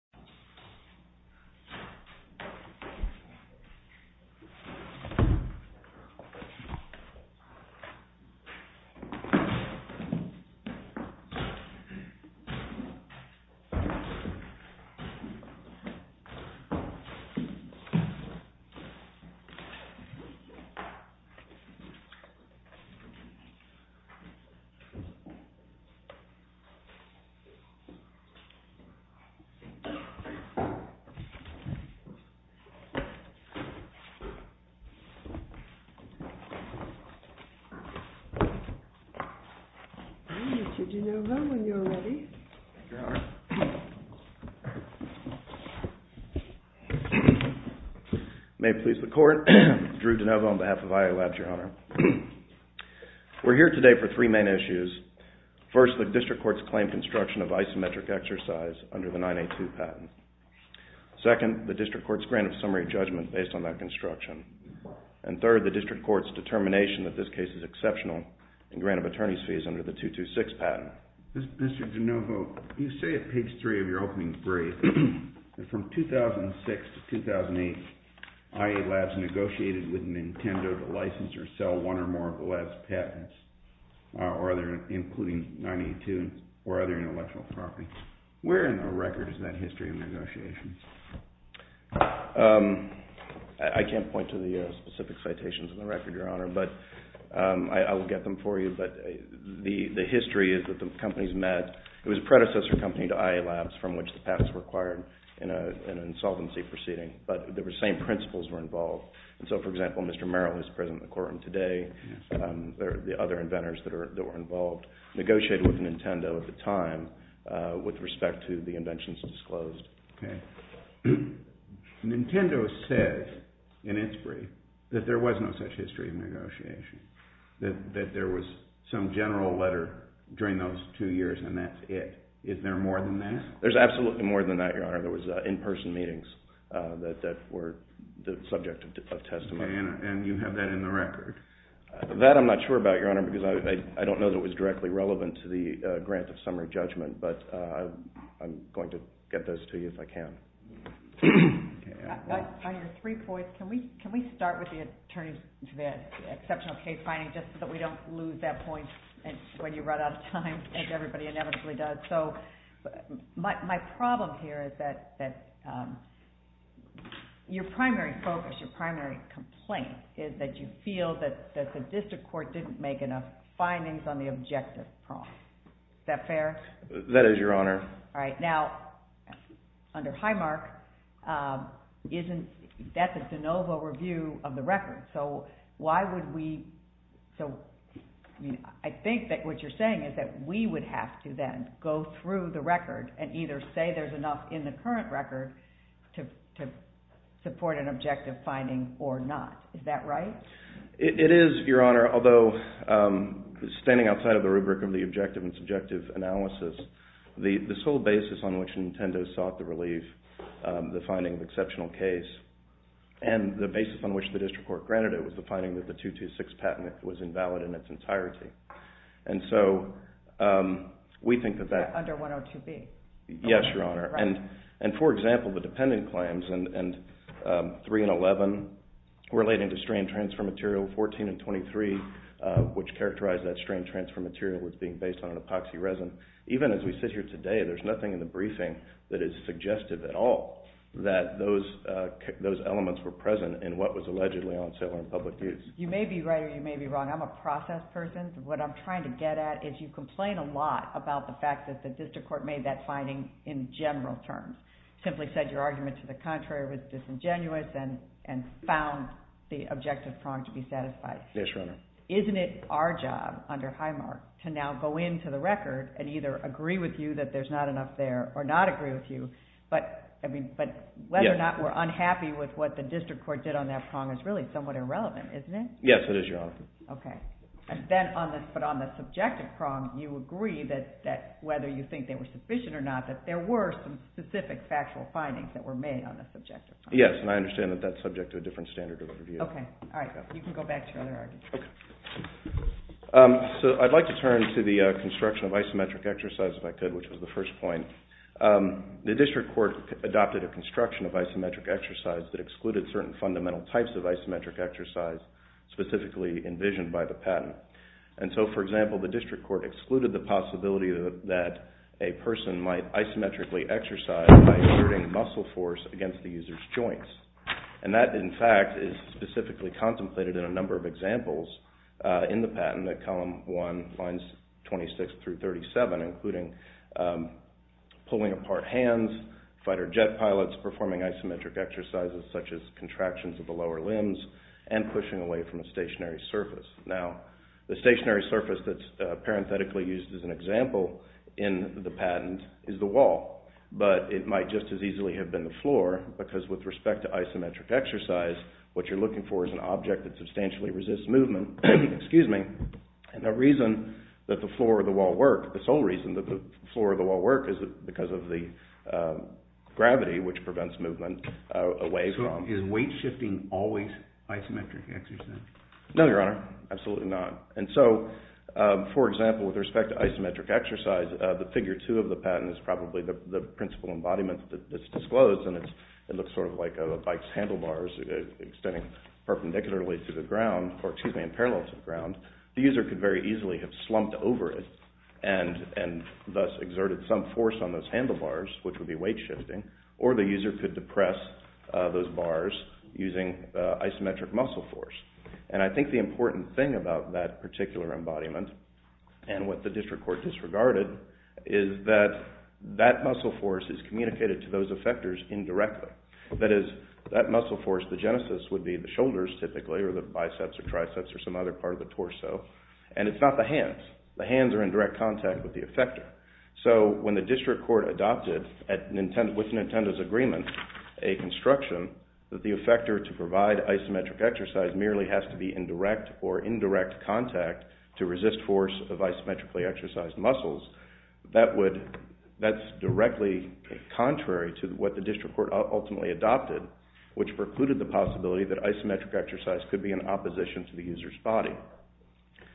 NINTENDO CO, LLC v. NINTENDO CO, LTD May it please the Court, Drew DeNova on behalf of IA LABS, Your Honor. We're here today for three main issues. First, the District Court's claim construction of isometric exercise under the 982 patch. Second, the District Court's grant of summary judgment based on that construction. And third, the District Court's determination that this case is exceptional in grant of attorney's fees under the 226 patent. Mr. DeNova, you say at page three of your opening brief that from 2006 to 2008, IA LABS negotiated with NINTENDO to license or sell one or more of the lab's patents, including 982 or other intellectual property. Where in the record is that history of negotiations? I can't point to the specific citations in the record, Your Honor, but I will get them for you. But the history is that the companies met. It was a predecessor company to IA LABS from which the patents were acquired in an insolvency proceeding. But the same principles were involved. So, for example, Mr. Merrill is present in the courtroom today, the other inventors that were involved negotiated with NINTENDO at the time with respect to the inventions disclosed. NINTENDO said in its brief that there was no such history of negotiation, that there was some general letter during those two years and that's it. Is there more than that? There's absolutely more than that, Your Honor. There was in-person meetings that were the subject of testimony. And you have that in the record? That I'm not sure about, Your Honor, because I don't know that it was directly relevant to the grant of summary judgment. But I'm going to get those to you if I can. On your brief voice, can we start with the exceptional case finding just so that we don't lose that point when you run out of time, as everybody inevitably does? So, my problem here is that your primary focus, your primary complaint is that you feel that the district court didn't make enough findings on the objective. Is that fair? That is, Your Honor. All right. Now, under Highmark, that's a de novo review of the record. So, I think that what you're saying is that we would have to then go through the record and either say there's enough in the current record to support an objective finding or not. Is that right? It is, Your Honor, although standing outside of the rubric of the objective and subjective analysis, the sole basis on which Nintendo sought to relieve the finding of exceptional case and the basis on which the district court granted it was the finding that the 226 patent was invalid in its entirety. And so, we think that that… Under 102B? Yes, Your Honor. And for example, the dependent claims in 3 and 11 relating to strain transfer material, 14 and 23, which characterized that strain transfer material was being based on an epoxy resin. Even as we sit here today, there's nothing in the briefing that is suggestive at all that those elements were present in what was allegedly on sale or in public use. You may be right or you may be wrong. I'm a process person. What I'm trying to get at is you complain a lot about the fact that the district court made that finding in general terms, simply said your argument to the contrary was disingenuous and found the objective prong to be satisfied. Isn't it our job under Highmark to now go into the record and either agree with you that there's not enough there or not agree with you, but whether or not we're unhappy with what the district court did on that prong is really somewhat irrelevant, isn't it? Yes, it is, Your Honor. Okay. But on the subjective prong, you agree that whether you think they were sufficient or not, that there were some specific factual findings that were made on the subjective prong. Yes, and I understand that that's subject to a different standard of review. Okay. All right. You can go back to your other argument. So I'd like to turn to the construction of isometric exercise if I could, which was the first point. The district court adopted a construction of isometric exercise that excluded certain fundamental types of isometric exercise, specifically envisioned by the patent. And so, for example, the district court excluded the possibility that a person might isometrically exercise by exerting muscle force against the user's joints. And that, in fact, is specifically contemplated in a number of examples in the patent at column 1, lines 26 through 37, including pulling apart hands, fighter jet pilots performing isometric exercises such as contractions of the lower limbs, and pushing away from a stationary surface. Now, the stationary surface that's parenthetically used as an example in the patent is the wall. But it might just as easily have been the floor, because with respect to isometric exercise, what you're looking for is an object that substantially resists movement. Excuse me. And the reason that the floor or the wall work, the sole reason that the floor or the wall work is because of the gravity, which prevents movement away from… So is weight shifting always isometric exercise? No, Your Honor. Absolutely not. And so, for example, with respect to isometric exercise, the figure 2 of the patent is probably the principal embodiment that's disclosed, and it looks sort of like a bike's handlebars extending perpendicularly to the ground, or excuse me, in parallel to the ground. The user could very easily have slumped over it and thus exerted some force on those handlebars, which would be weight shifting, or the user could depress those bars using isometric muscle force. And I think the important thing about that particular embodiment and what the district court disregarded is that that muscle force is communicated to those effectors indirectly. That is, that muscle force, the genesis, would be the shoulders, typically, or the biceps or triceps or some other part of the torso, and it's not the hands. The hands are in direct contact with the effector. So when the district court adopted, with Nintendo's agreement, a construction that the effector to provide isometric exercise merely has to be in direct or indirect contact to resist force of isometrically exercised muscles, that's directly contrary to what the district court ultimately adopted, which precluded the possibility that isometric exercise could be in opposition to the user's body.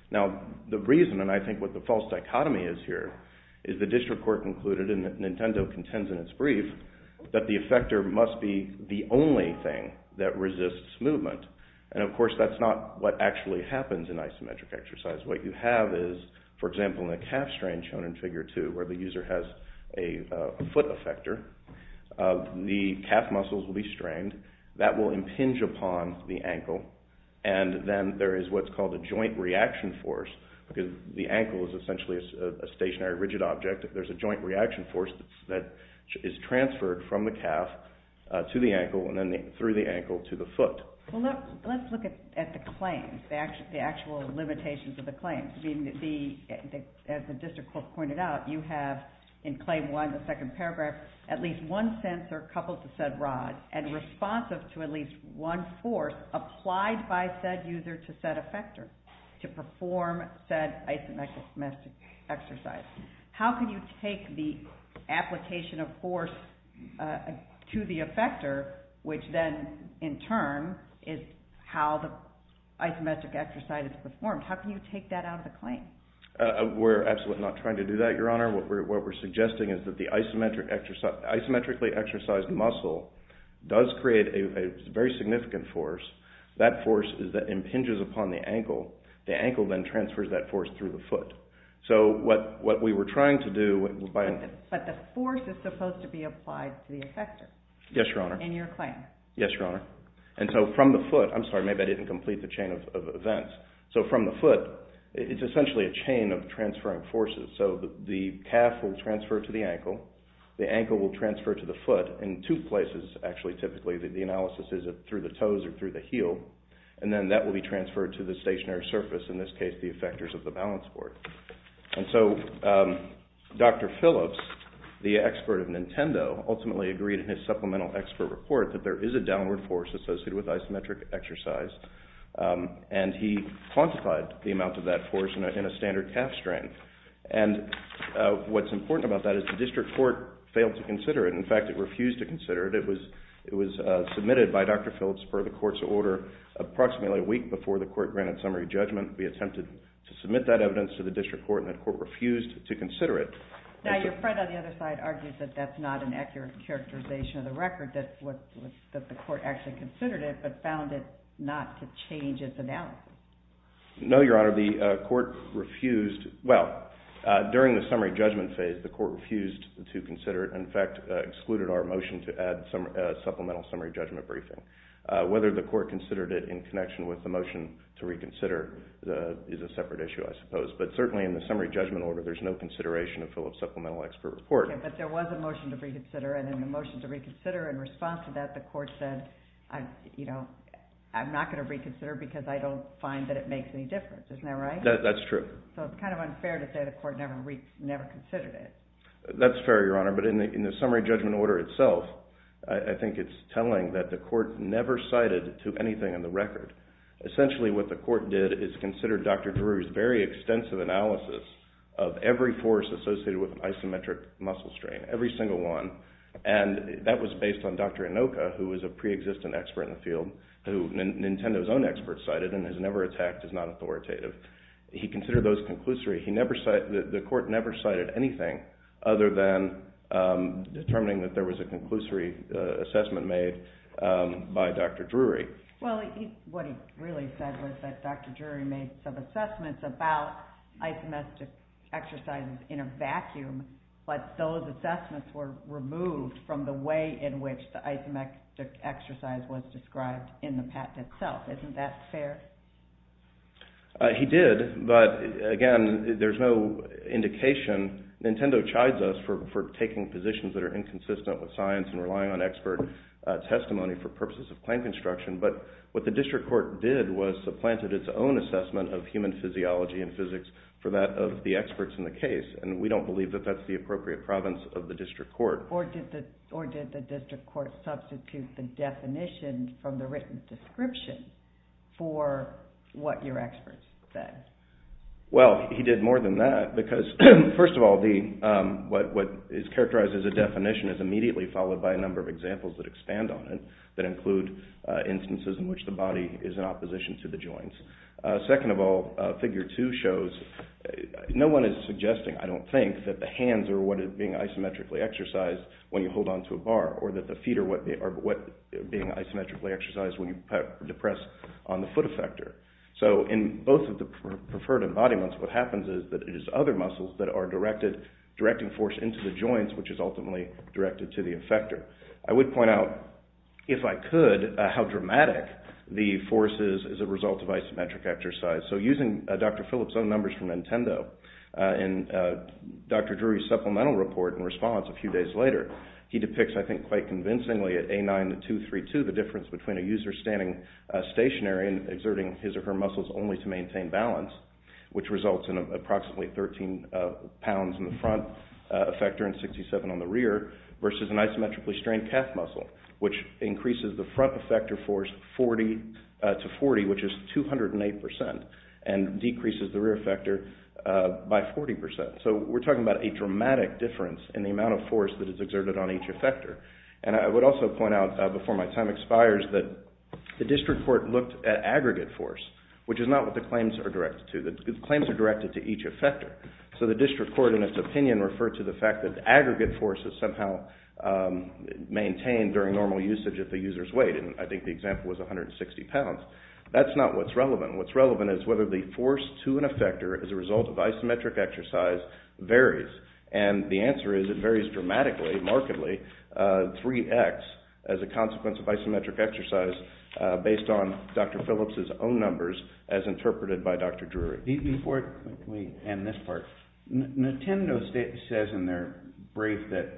Now, the reason, and I think what the false dichotomy is here, is the district court concluded, and Nintendo contends in its brief, that the effector must be the only thing that resists movement. And of course, that's not what actually happens in isometric exercise. What you have is, for example, in a calf strain shown in figure two, where the user has a foot effector, the calf muscles will be strained, that will impinge upon the ankle, and then there is what's called a joint reaction force, because the ankle is essentially a stationary rigid object. There's a joint reaction force that is transferred from the calf to the ankle, and then through the ankle to the foot. Let's look at the claims, the actual limitations of the claims. As the district court pointed out, you have in claim one, the second paragraph, at least one sensor coupled to said rod, and responsive to at least one force applied by said user to said effector to perform said isometric exercise. How can you take the application of force to the effector, which then, in turn, is how the isometric exercise is performed? How can you take that out of the claim? We're absolutely not trying to do that, Your Honor. What we're suggesting is that the isometrically exercised muscle does create a very significant force. That force impinges upon the ankle. The ankle then transfers that force through the foot. But the force is supposed to be applied to the effector? Yes, Your Honor. In your claim? Yes, Your Honor. And so from the foot, I'm sorry, maybe I didn't complete the chain of events. So from the foot, it's essentially a chain of transferring forces. So the calf will transfer to the ankle. The ankle will transfer to the foot in two places, actually, typically. The analysis is through the toes or through the heel. And then that will be transferred to the stationary surface, in this case, the effectors of the balance board. And so Dr. Phillips, the expert of Nintendo, ultimately agreed in his supplemental expert report that there is a downward force associated with isometric exercise. And he quantified the amount of that force in a standard calf strain. And what's important about that is the district court failed to consider it. In fact, it refused to consider it. It was submitted by Dr. Phillips per the court's order approximately a week before the court granted summary judgment. We attempted to submit that evidence to the district court, and the court refused to consider it. Now, your friend on the other side argues that that's not an accurate characterization of the record, that the court actually considered it but found it not to change its analysis. No, Your Honor. The court refused – well, during the summary judgment phase, the court refused to consider it. In fact, excluded our motion to add supplemental summary judgment briefing. Whether the court considered it in connection with the motion to reconsider is a separate issue, I suppose. But certainly in the summary judgment order, there's no consideration of Phillips supplemental expert report. But there was a motion to reconsider, and in the motion to reconsider, in response to that, the court said, you know, I'm not going to reconsider because I don't find that it makes any difference. Isn't that right? That's true. So it's kind of unfair to say the court never considered it. That's fair, Your Honor. But in the summary judgment order itself, I think it's telling that the court never cited to anything in the record. Essentially what the court did is consider Dr. Drury's very extensive analysis of every force associated with isometric muscle strain, every single one. And that was based on Dr. Inoka, who was a preexistent expert in the field, who Nintendo's own expert cited and has never attacked as not authoritative. He considered those conclusory. He never – the court never cited anything other than determining that there was a conclusory assessment made by Dr. Drury. Well, what he really said was that Dr. Drury made some assessments about isometric exercises in a vacuum, but those assessments were removed from the way in which the isometric exercise was described in the patent itself. Isn't that fair? He did, but again, there's no indication. Nintendo chides us for taking positions that are inconsistent with science and relying on expert testimony for purposes of claim construction. But what the district court did was supplanted its own assessment of human physiology and physics for that of the experts in the case, and we don't believe that that's the appropriate province of the district court. Or did the district court substitute the definition from the written description for what your experts said? Well, he did more than that, because first of all, what is characterized as a definition is immediately followed by a number of examples that expand on it that include instances in which the body is in opposition to the joints. Second of all, figure two shows no one is suggesting, I don't think, that the hands are what is being isometrically exercised when you hold onto a bar, or that the feet are what are being isometrically exercised when you press on the foot effector. So in both of the preferred embodiments, what happens is that it is other muscles that are directing force into the joints, which is ultimately directed to the effector. I would point out, if I could, how dramatic the force is as a result of isometric exercise. So using Dr. Phillips' own numbers from Nintendo, in Dr. Drury's supplemental report in response a few days later, he depicts, I think quite convincingly, at A9-232, the difference between a user standing stationary and exerting his or her muscles only to maintain balance, which results in approximately 13 pounds in the front effector and 67 on the rear, versus an isometrically strained calf muscle, which increases the front effector force to 40, which is 208%, and decreases the rear effector by 40%. So we're talking about a dramatic difference in the amount of force that is exerted on each effector. And I would also point out, before my time expires, that the district court looked at aggregate force, which is not what the claims are directed to. The claims are directed to each effector. So the district court, in its opinion, referred to the fact that aggregate force is somehow maintained during normal usage at the user's weight, and I think the example was 160 pounds. That's not what's relevant. What's relevant is whether the force to an effector as a result of isometric exercise varies, and the answer is it varies dramatically, markedly, 3x as a consequence of isometric exercise based on Dr. Phillips' own numbers as interpreted by Dr. Drury. Before we end this part, Nintendo says in their brief that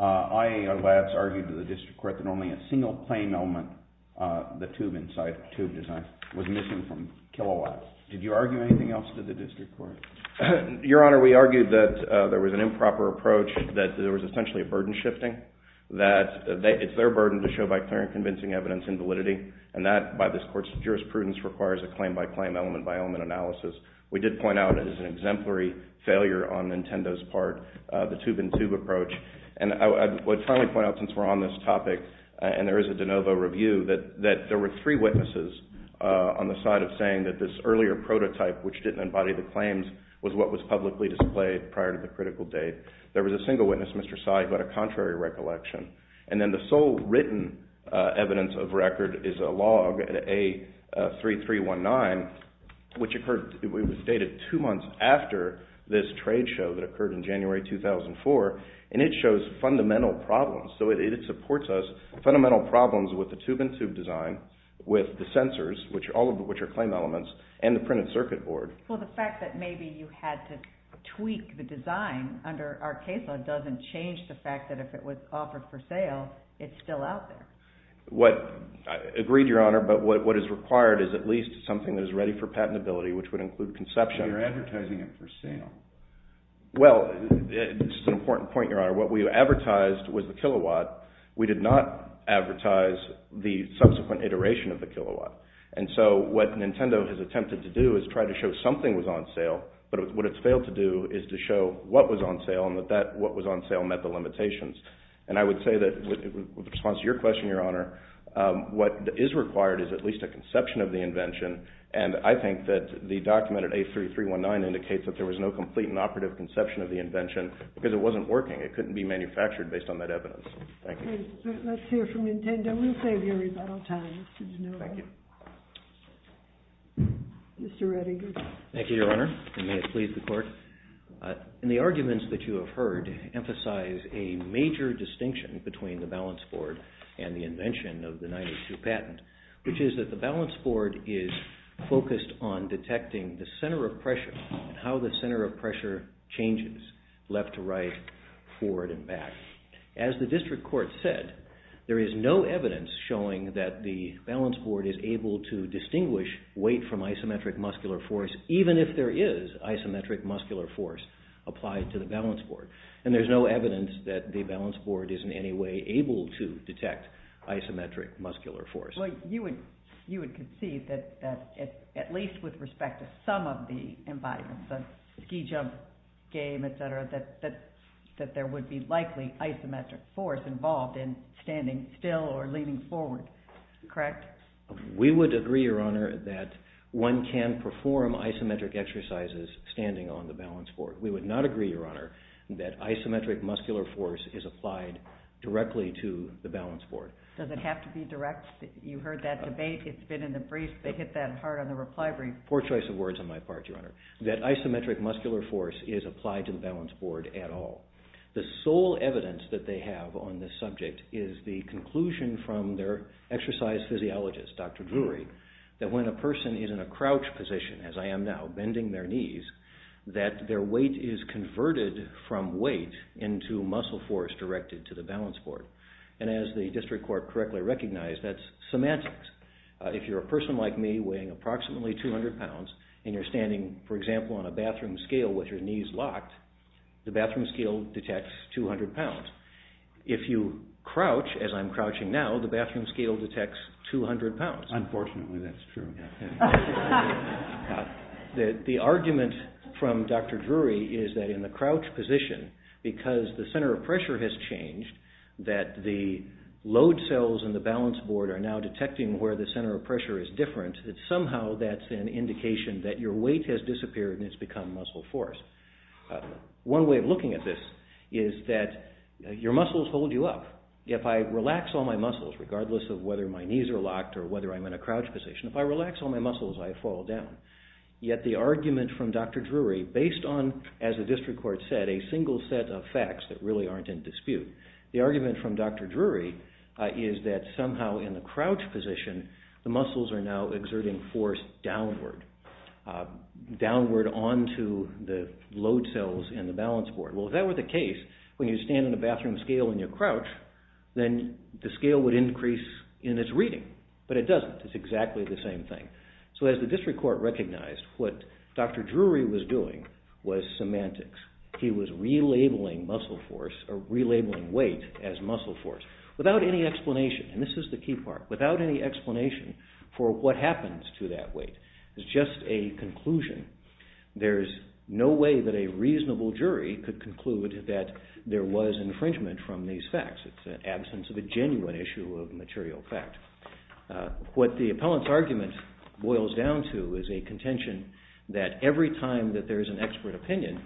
IAO Labs argued to the district court that only a single claim element, the tube design, was missing from Kilowatt. Did you argue anything else to the district court? Your Honor, we argued that there was an improper approach, that there was essentially a burden shifting, that it's their burden to show by clear and convincing evidence in validity, and that, by this court's jurisprudence, requires a claim-by-claim, element-by-element analysis. We did point out it is an exemplary failure on Nintendo's part, the tube-in-tube approach. And I would finally point out, since we're on this topic and there is a de novo review, that there were three witnesses on the side of saying that this earlier prototype, which didn't embody the claims, was what was publicly displayed prior to the critical date. There was a single witness, Mr. Sy, who had a contrary recollection. And then the sole written evidence of record is a log at A3319, which was dated two months after this trade show that occurred in January 2004, and it shows fundamental problems. So it supports us, fundamental problems with the tube-in-tube design, with the sensors, all of which are claim elements, and the printed circuit board. Well, the fact that maybe you had to tweak the design under our case law doesn't change the fact that if it was offered for sale, it's still out there. Agreed, Your Honor, but what is required is at least something that is ready for patentability, which would include conception. You're advertising it for sale. Well, this is an important point, Your Honor. What we advertised was the kilowatt. We did not advertise the subsequent iteration of the kilowatt. And so what Nintendo has attempted to do is try to show something was on sale, but what it's failed to do is to show what was on sale and that what was on sale met the limitations. And I would say that, in response to your question, Your Honor, what is required is at least a conception of the invention. And I think that the document at A3319 indicates that there was no complete and operative conception of the invention because it wasn't working. It couldn't be manufactured based on that evidence. Thank you. Let's hear from Nintendo. We'll save your rebuttal time. Mr. Redding. Thank you, Your Honor, and may it please the Court. The arguments that you have heard emphasize a major distinction between the balance board and the invention of the 92 patent, which is that the balance board is focused on detecting the center of pressure and how the center of pressure changes left to right, forward and back. As the district court said, there is no evidence showing that the balance board is able to distinguish weight from isometric muscular force, even if there is isometric muscular force applied to the balance board. And there's no evidence that the balance board is in any way able to detect isometric muscular force. Well, you would concede that at least with respect to some of the environments, the ski jump game, etc., that there would be likely isometric force involved in standing still or leaning forward, correct? We would agree, Your Honor, that one can perform isometric exercises standing on the balance board. We would not agree, Your Honor, that isometric muscular force is applied directly to the balance board. Does it have to be direct? You heard that debate. It's been in the brief. They hit that hard on the reply brief. Poor choice of words on my part, Your Honor. That isometric muscular force is applied to the balance board at all. The sole evidence that they have on this subject is the conclusion from their exercise physiologist, Dr. Drury, that when a person is in a crouch position, as I am now, bending their knees, that their weight is converted from weight into muscle force directed to the balance board. And as the district court correctly recognized, that's semantics. If you're a person like me weighing approximately 200 pounds and you're standing, for example, on a bathroom scale with your knees locked, the bathroom scale detects 200 pounds. If you crouch, as I'm crouching now, the bathroom scale detects 200 pounds. Unfortunately, that's true. The argument from Dr. Drury is that in the crouch position, because the center of pressure has changed, that the load cells in the balance board are now detecting where the center of pressure is different, that somehow that's an indication that your weight has disappeared and it's become muscle force. One way of looking at this is that your muscles hold you up. If I relax all my muscles, regardless of whether my knees are locked or whether I'm in a crouch position, if I relax all my muscles, I fall down. Yet the argument from Dr. Drury, based on, as the district court said, a single set of facts that really aren't in dispute, the argument from Dr. Drury is that somehow in the crouch position, the muscles are now exerting force downward, downward onto the load cells in the balance board. Well, if that were the case, when you stand on a bathroom scale and you crouch, then the scale would increase in its reading. But it doesn't. It's exactly the same thing. So as the district court recognized, what Dr. Drury was doing was semantics. He was relabeling weight as muscle force without any explanation, and this is the key part, without any explanation for what happens to that weight. It's just a conclusion. There's no way that a reasonable jury could conclude that there was infringement from these facts. It's an absence of a genuine issue of material fact. What the appellant's argument boils down to is a contention that every time that there is an expert opinion,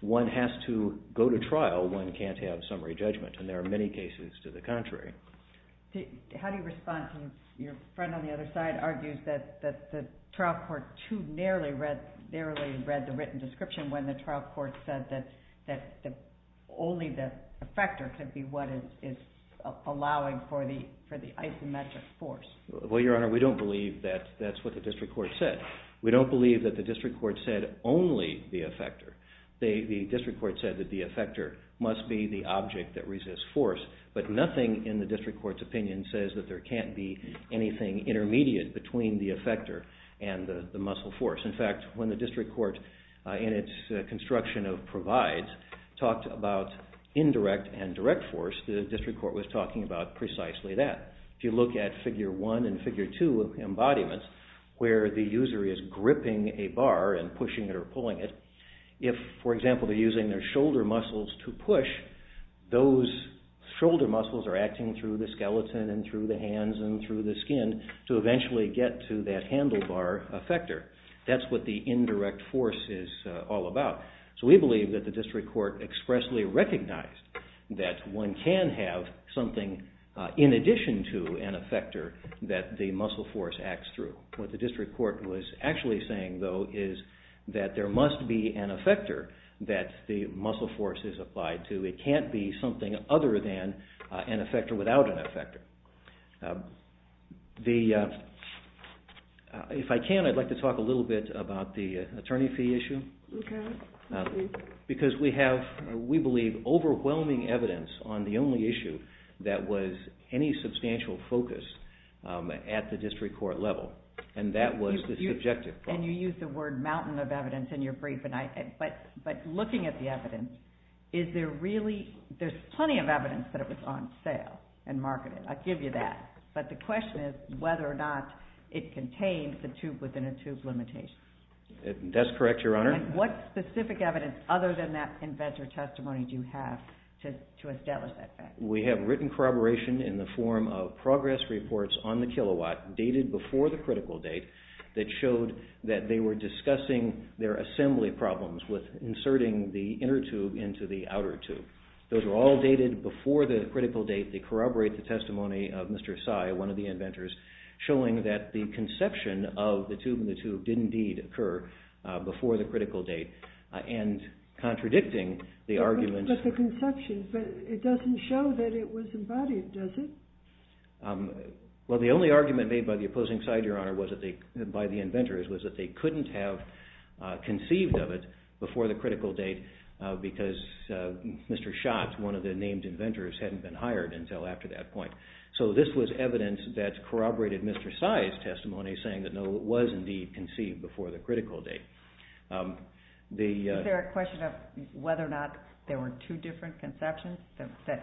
one has to go to trial. One can't have summary judgment, and there are many cases to the contrary. How do you respond to your friend on the other side argues that the trial court too narrowly read the written description when the trial court said that only the effector could be what is allowing for the isometric force? Well, Your Honor, we don't believe that that's what the district court said. We don't believe that the district court said only the effector. The district court said that the effector must be the object that resists force, but nothing in the district court's opinion says that there can't be anything intermediate between the effector and the muscle force. In fact, when the district court in its construction of provides talked about indirect and direct force, the district court was talking about precisely that. If you look at figure one and figure two of embodiments where the user is gripping a bar and pushing it or pulling it, if, for example, they're using their shoulder muscles to push, those shoulder muscles are acting through the skeleton and through the hands and through the skin to eventually get to that handlebar effector. That's what the indirect force is all about. So we believe that the district court expressly recognized that one can have something in addition to an effector that the muscle force acts through. What the district court was actually saying, though, is that there must be an effector that the muscle force is applied to. It can't be something other than an effector without an effector. If I can, I'd like to talk a little bit about the attorney fee issue. Okay. Because we have, we believe, overwhelming evidence on the only issue that was any substantial focus at the district court level, and that was this objective. And you used the word mountain of evidence in your brief, but looking at the evidence, is there really, there's plenty of evidence that it was on sale and marketed. I'll give you that. But the question is whether or not it contained the tube within a tube limitation. That's correct, Your Honor. And what specific evidence other than that inventor testimony do you have to establish that fact? We have written corroboration in the form of progress reports on the kilowatt dated before the critical date that showed that they were discussing their assembly problems with inserting the inner tube into the outer tube. Those were all dated before the critical date. They corroborate the testimony of Mr. Sy, one of the inventors, showing that the conception of the tube in the tube did indeed occur before the critical date, and contradicting the argument. But the conception, it doesn't show that it was embodied, does it? Well, the only argument made by the opposing side, Your Honor, by the inventors, was that they couldn't have conceived of it before the critical date because Mr. Schatz, one of the named inventors, hadn't been hired until after that point. So this was evidence that corroborated Mr. Sy's testimony, saying that no, it was indeed conceived before the critical date. Is there a question of whether or not there were two different conceptions?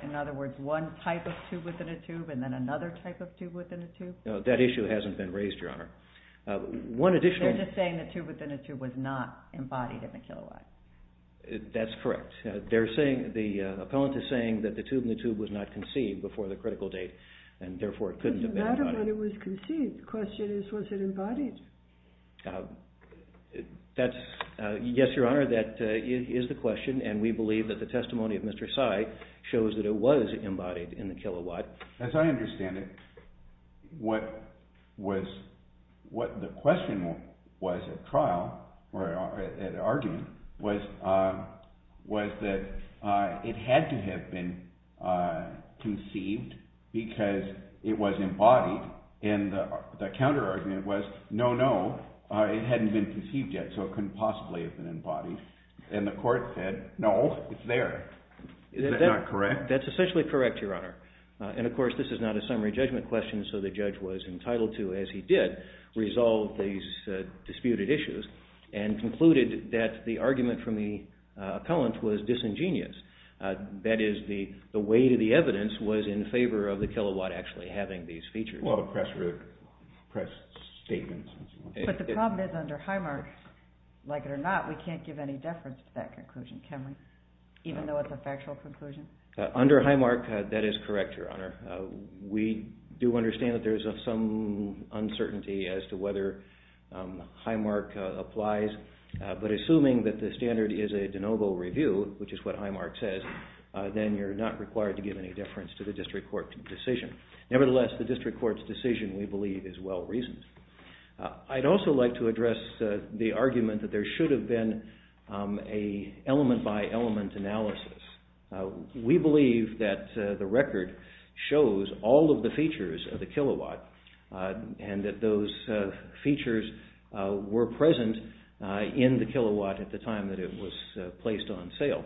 In other words, one type of tube within a tube and then another type of tube within a tube? That issue hasn't been raised, Your Honor. They're just saying the tube within a tube was not embodied in the kilowatt. That's correct. The opponent is saying that the tube in the tube was not conceived before the critical date, and therefore it couldn't have been embodied. It doesn't matter that it was conceived. The question is, was it embodied? Yes, Your Honor, that is the question, and we believe that the testimony of Mr. Sy shows that it was embodied in the kilowatt. As I understand it, what the question was at trial, or at argument, was that it had to have been conceived because it was embodied, and the counterargument was, no, no, it hadn't been conceived yet, so it couldn't possibly have been embodied, and the court said, no, it's there. Is that not correct? That's essentially correct, Your Honor. And, of course, this is not a summary judgment question, so the judge was entitled to, as he did, resolve these disputed issues and concluded that the argument from the opponent was disingenuous. That is, the weight of the evidence was in favor of the kilowatt actually having these features. Well, the press statements. But the problem is under Highmark, like it or not, we can't give any deference to that conclusion, can we, even though it's a factual conclusion? Under Highmark, that is correct, Your Honor. We do understand that there is some uncertainty as to whether Highmark applies, but assuming that the standard is a de novo review, which is what Highmark says, then you're not required to give any deference to the district court's decision. Nevertheless, the district court's decision, we believe, is well-reasoned. I'd also like to address the argument that there should have been an element-by-element analysis. We believe that the record shows all of the features of the kilowatt and that those features were present in the kilowatt at the time that it was placed on sale.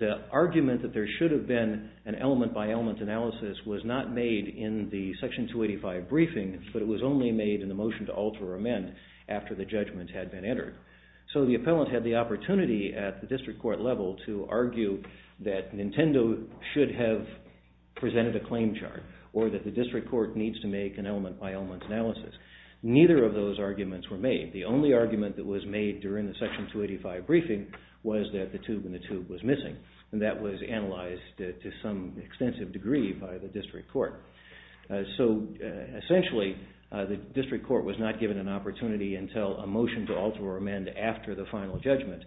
The argument that there should have been an element-by-element analysis was not made in the Section 285 briefing, but it was only made in the motion to alter or amend after the judgment had been entered. So the appellant had the opportunity at the district court level to argue that Nintendo should have presented a claim chart or that the district court needs to make an element-by-element analysis. Neither of those arguments were made. The only argument that was made during the Section 285 briefing was that the tube in the tube was missing, and that was analyzed to some extensive degree by the district court. So essentially, the district court was not given an opportunity until a motion to alter or amend after the final judgment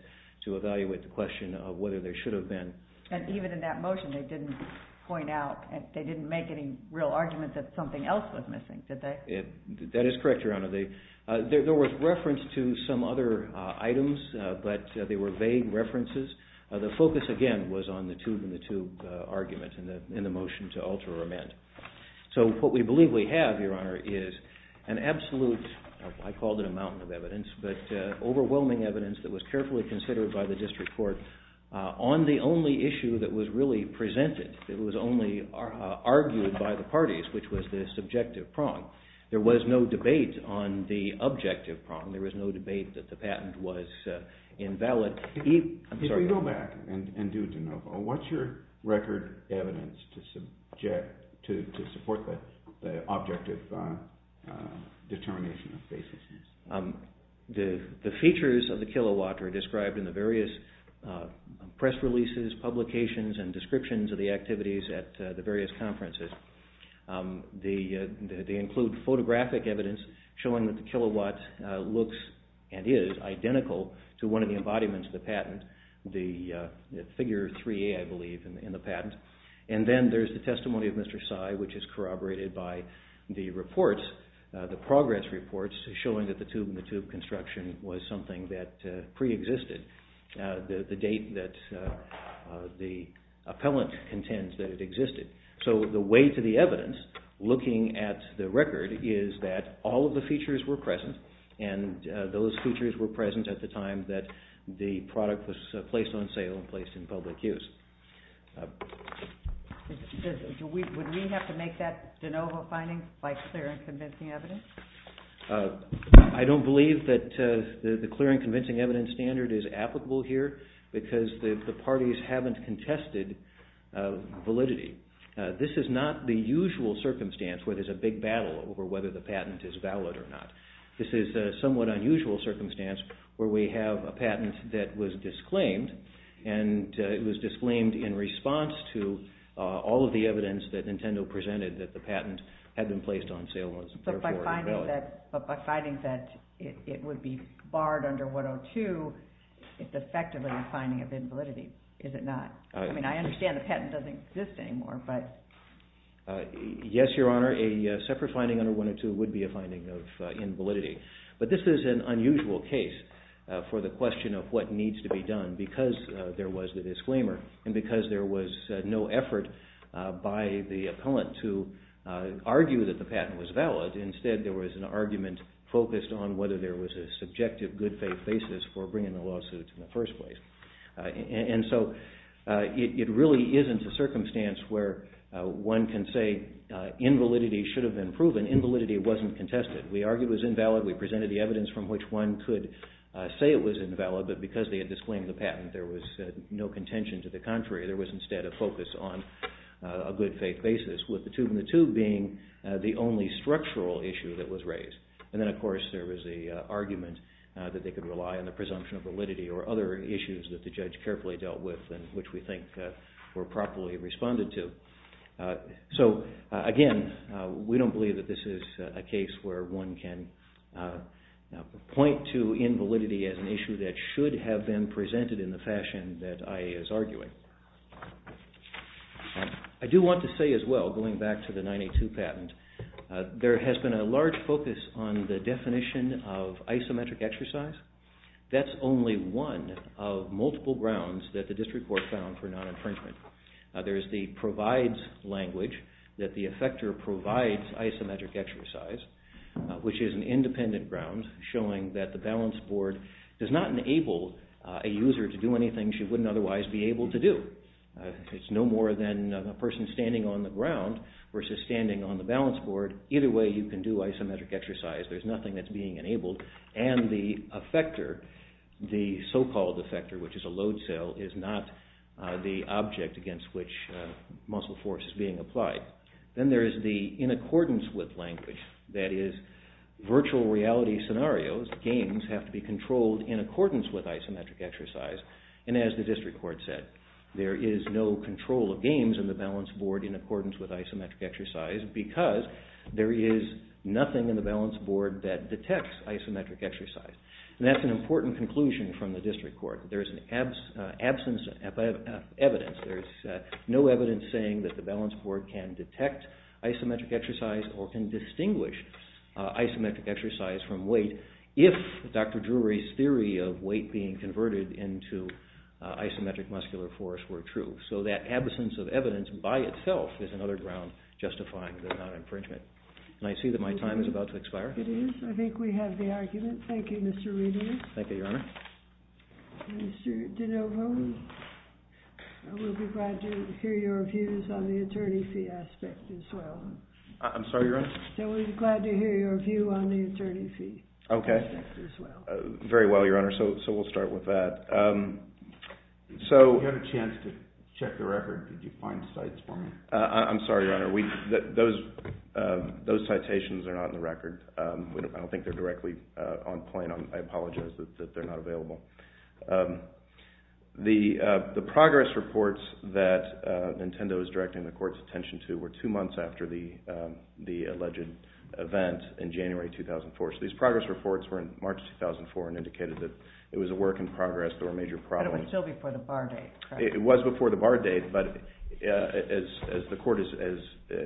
to evaluate the question of whether there should have been. And even in that motion, they didn't point out, they didn't make any real argument that something else was missing, did they? That is correct, Your Honor. There was reference to some other items, but they were vague references. The focus, again, was on the tube in the tube argument in the motion to alter or amend. So what we believe we have, Your Honor, is an absolute, I called it a mountain of evidence, but overwhelming evidence that was carefully considered by the district court on the only issue that was really presented. It was only argued by the parties, which was the subjective prong. There was no debate on the objective prong. There was no debate that the patent was invalid. If we go back and do de novo, what's your record evidence to support the objective determination of baselessness? The features of the kilowatt are described in the various press releases, publications, and descriptions of the activities at the various conferences. They include photographic evidence showing that the kilowatt looks and is identical to one of the embodiments of the patent, the figure 3A, I believe, in the patent. And then there's the testimony of Mr. Sy, which is corroborated by the reports, the progress reports showing that the tube in the tube construction was something that preexisted, the date that the appellant contends that it existed. So the way to the evidence, looking at the record, is that all of the features were present, and those features were present at the time that the product was placed on sale and placed in public use. Would we have to make that de novo finding by clear and convincing evidence? I don't believe that the clear and convincing evidence standard is applicable here because the parties haven't contested validity. This is not the usual circumstance where there's a big battle over whether the patent is valid or not. This is a somewhat unusual circumstance where we have a patent that was disclaimed, and it was disclaimed in response to all of the evidence that Nintendo presented that the patent had been placed on sale and was therefore invalid. But by finding that it would be barred under 102, it's effectively a finding of invalidity, is it not? I mean, I understand the patent doesn't exist anymore, but... Yes, Your Honor, a separate finding under 102 would be a finding of invalidity. But this is an unusual case for the question of what needs to be done because there was the disclaimer and because there was no effort by the opponent to argue that the patent was valid. Instead, there was an argument focused on whether there was a subjective good faith basis for bringing the lawsuits in the first place. And so it really isn't a circumstance where one can say invalidity should have been proven. Invalidity wasn't contested. We argued it was invalid. We presented the evidence from which one could say it was invalid, but because they had disclaimed the patent, there was no contention. To the contrary, there was instead a focus on a good faith basis with the tube in the tube being the only structural issue that was raised. And then, of course, there was the argument that they could rely on the presumption of validity or other issues that the judge carefully dealt with and which we think were properly responded to. So, again, we don't believe that this is a case where one can point to invalidity as an issue that should have been presented in the fashion that IA is arguing. I do want to say as well, going back to the 982 patent, there has been a large focus on the definition of isometric exercise. That's only one of multiple grounds that the district court found for non-infringement. There's the provides language that the effector provides isometric exercise, which is an independent ground showing that the balance board does not enable a user to do anything she wouldn't otherwise be able to do. It's no more than a person standing on the ground versus standing on the balance board. Either way, you can do isometric exercise. There's nothing that's being enabled. And the effector, the so-called effector, which is a load cell, is not the object against which muscle force is being applied. Then there is the in accordance with language, that is, virtual reality scenarios, games, have to be controlled in accordance with isometric exercise. And as the district court said, there is no control of games in the balance board in accordance with isometric exercise because there is nothing in the balance board that detects isometric exercise. And that's an important conclusion from the district court. There's an absence of evidence. There's no evidence saying that the balance board can detect isometric exercise or can distinguish isometric exercise from weight if Dr. Drury's theory of weight being converted into isometric muscular force were true. So that absence of evidence by itself is another ground justifying the non-infringement. And I see that my time is about to expire. It is. I think we have the argument. Thank you, Mr. Reedy. Thank you, Your Honor. Mr. De Novo, we'll be glad to hear your views on the attorney fee aspect as well. I'm sorry, Your Honor? We'll be glad to hear your view on the attorney fee aspect as well. Okay. Very well, Your Honor. So we'll start with that. You had a chance to check the record. Did you find sites for me? I'm sorry, Your Honor. Those citations are not in the record. I don't think they're directly on point. I apologize that they're not available. The progress reports that Nintendo is directing the court's attention to were two months after the alleged event in January 2004. So these progress reports were in March 2004 and indicated that it was a work in progress. There were major problems. But it was still before the bar date, correct? It was before the bar date. But as the court has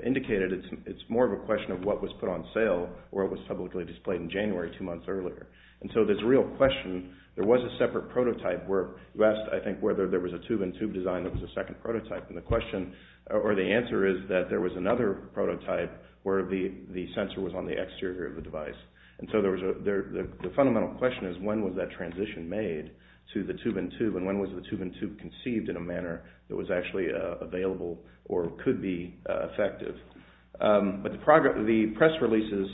indicated, it's more of a question of what was put on sale or what was publicly displayed in January two months earlier. And so there's a real question. There was a separate prototype where you asked, I think, whether there was a tube-in-tube design that was a second prototype. And the question or the answer is that there was another prototype where the sensor was on the exterior of the device. And so the fundamental question is when was that transition made to the tube-in-tube and when was the tube-in-tube conceived in a manner that was actually available or could be effective. But the press releases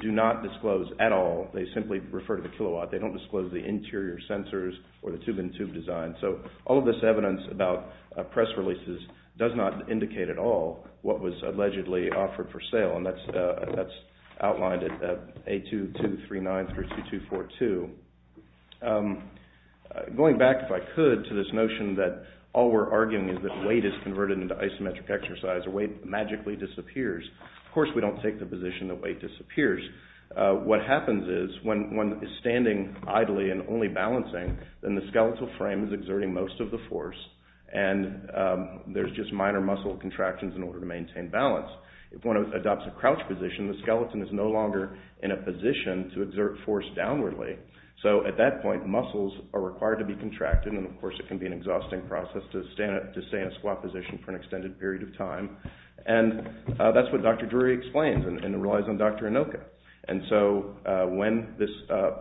do not disclose at all. They simply refer to the kilowatt. They don't disclose the interior sensors or the tube-in-tube design. So all of this evidence about press releases does not indicate at all what was allegedly offered for sale. And that's outlined at A2239 through 2242. Going back, if I could, to this notion that all we're arguing is that weight is converted into isometric exercise or weight magically disappears. Of course, we don't take the position that weight disappears. What happens is when one is standing idly and only balancing, then the skeletal frame is exerting most of the force and there's just minor muscle contractions in order to maintain balance. If one adopts a crouch position, the skeleton is no longer in a position to exert force downwardly. So at that point, muscles are required to be contracted, and of course it can be an exhausting process to stay in a squat position for an extended period of time. And that's what Dr. Drury explains and it relies on Dr. Inoka. And so when this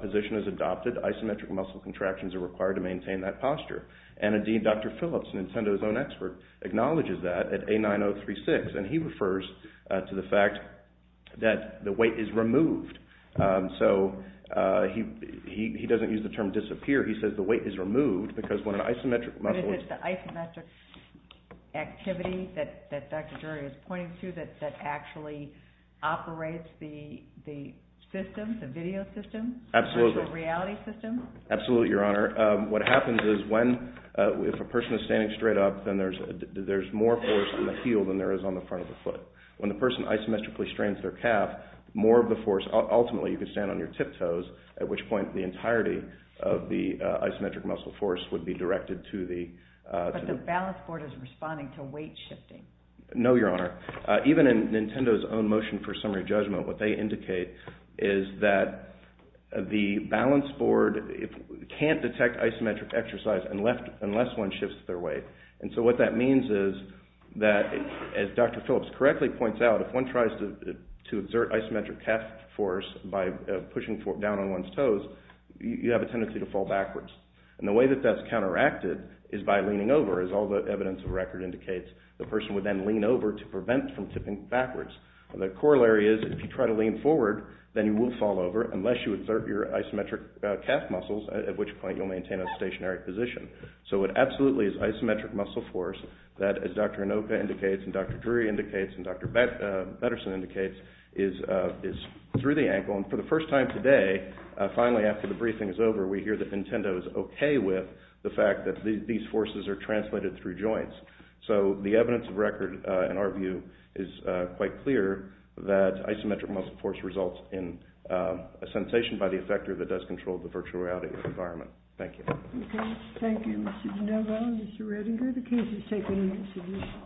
position is adopted, isometric muscle contractions are required to maintain that posture. And indeed, Dr. Phillips, Nintendo's own expert, acknowledges that at A9036. And he refers to the fact that the weight is removed. So he doesn't use the term disappear. He says the weight is removed because when an isometric muscle is— But is it the isometric activity that Dr. Drury is pointing to that actually operates the system, the video system? Absolutely. The reality system? Absolutely, Your Honor. What happens is if a person is standing straight up, then there's more force on the heel than there is on the front of the foot. When the person isometrically strains their calf, more of the force—ultimately you can stand on your tiptoes, at which point the entirety of the isometric muscle force would be directed to the— But the balance board is responding to weight shifting. No, Your Honor. Even in Nintendo's own motion for summary judgment, what they indicate is that the balance board can't detect isometric exercise unless one shifts their weight. And so what that means is that, as Dr. Phillips correctly points out, if one tries to exert isometric calf force by pushing down on one's toes, you have a tendency to fall backwards. And the way that that's counteracted is by leaning over. As all the evidence of record indicates, the person would then lean over to prevent from tipping backwards. The corollary is if you try to lean forward, then you will fall over unless you exert your isometric calf muscles, at which point you'll maintain a stationary position. So it absolutely is isometric muscle force that, as Dr. Inoka indicates and Dr. Drury indicates and Dr. Betterson indicates, is through the ankle. And for the first time today, finally after the briefing is over, we hear that Nintendo is okay with the fact that these forces are translated through joints. So the evidence of record, in our view, is quite clear that isometric muscle force results in a sensation by the effector that does control the virtual reality environment. Thank you. Okay. Thank you, Mr. De Novo and Mr. Redinger. The case is taken in consideration.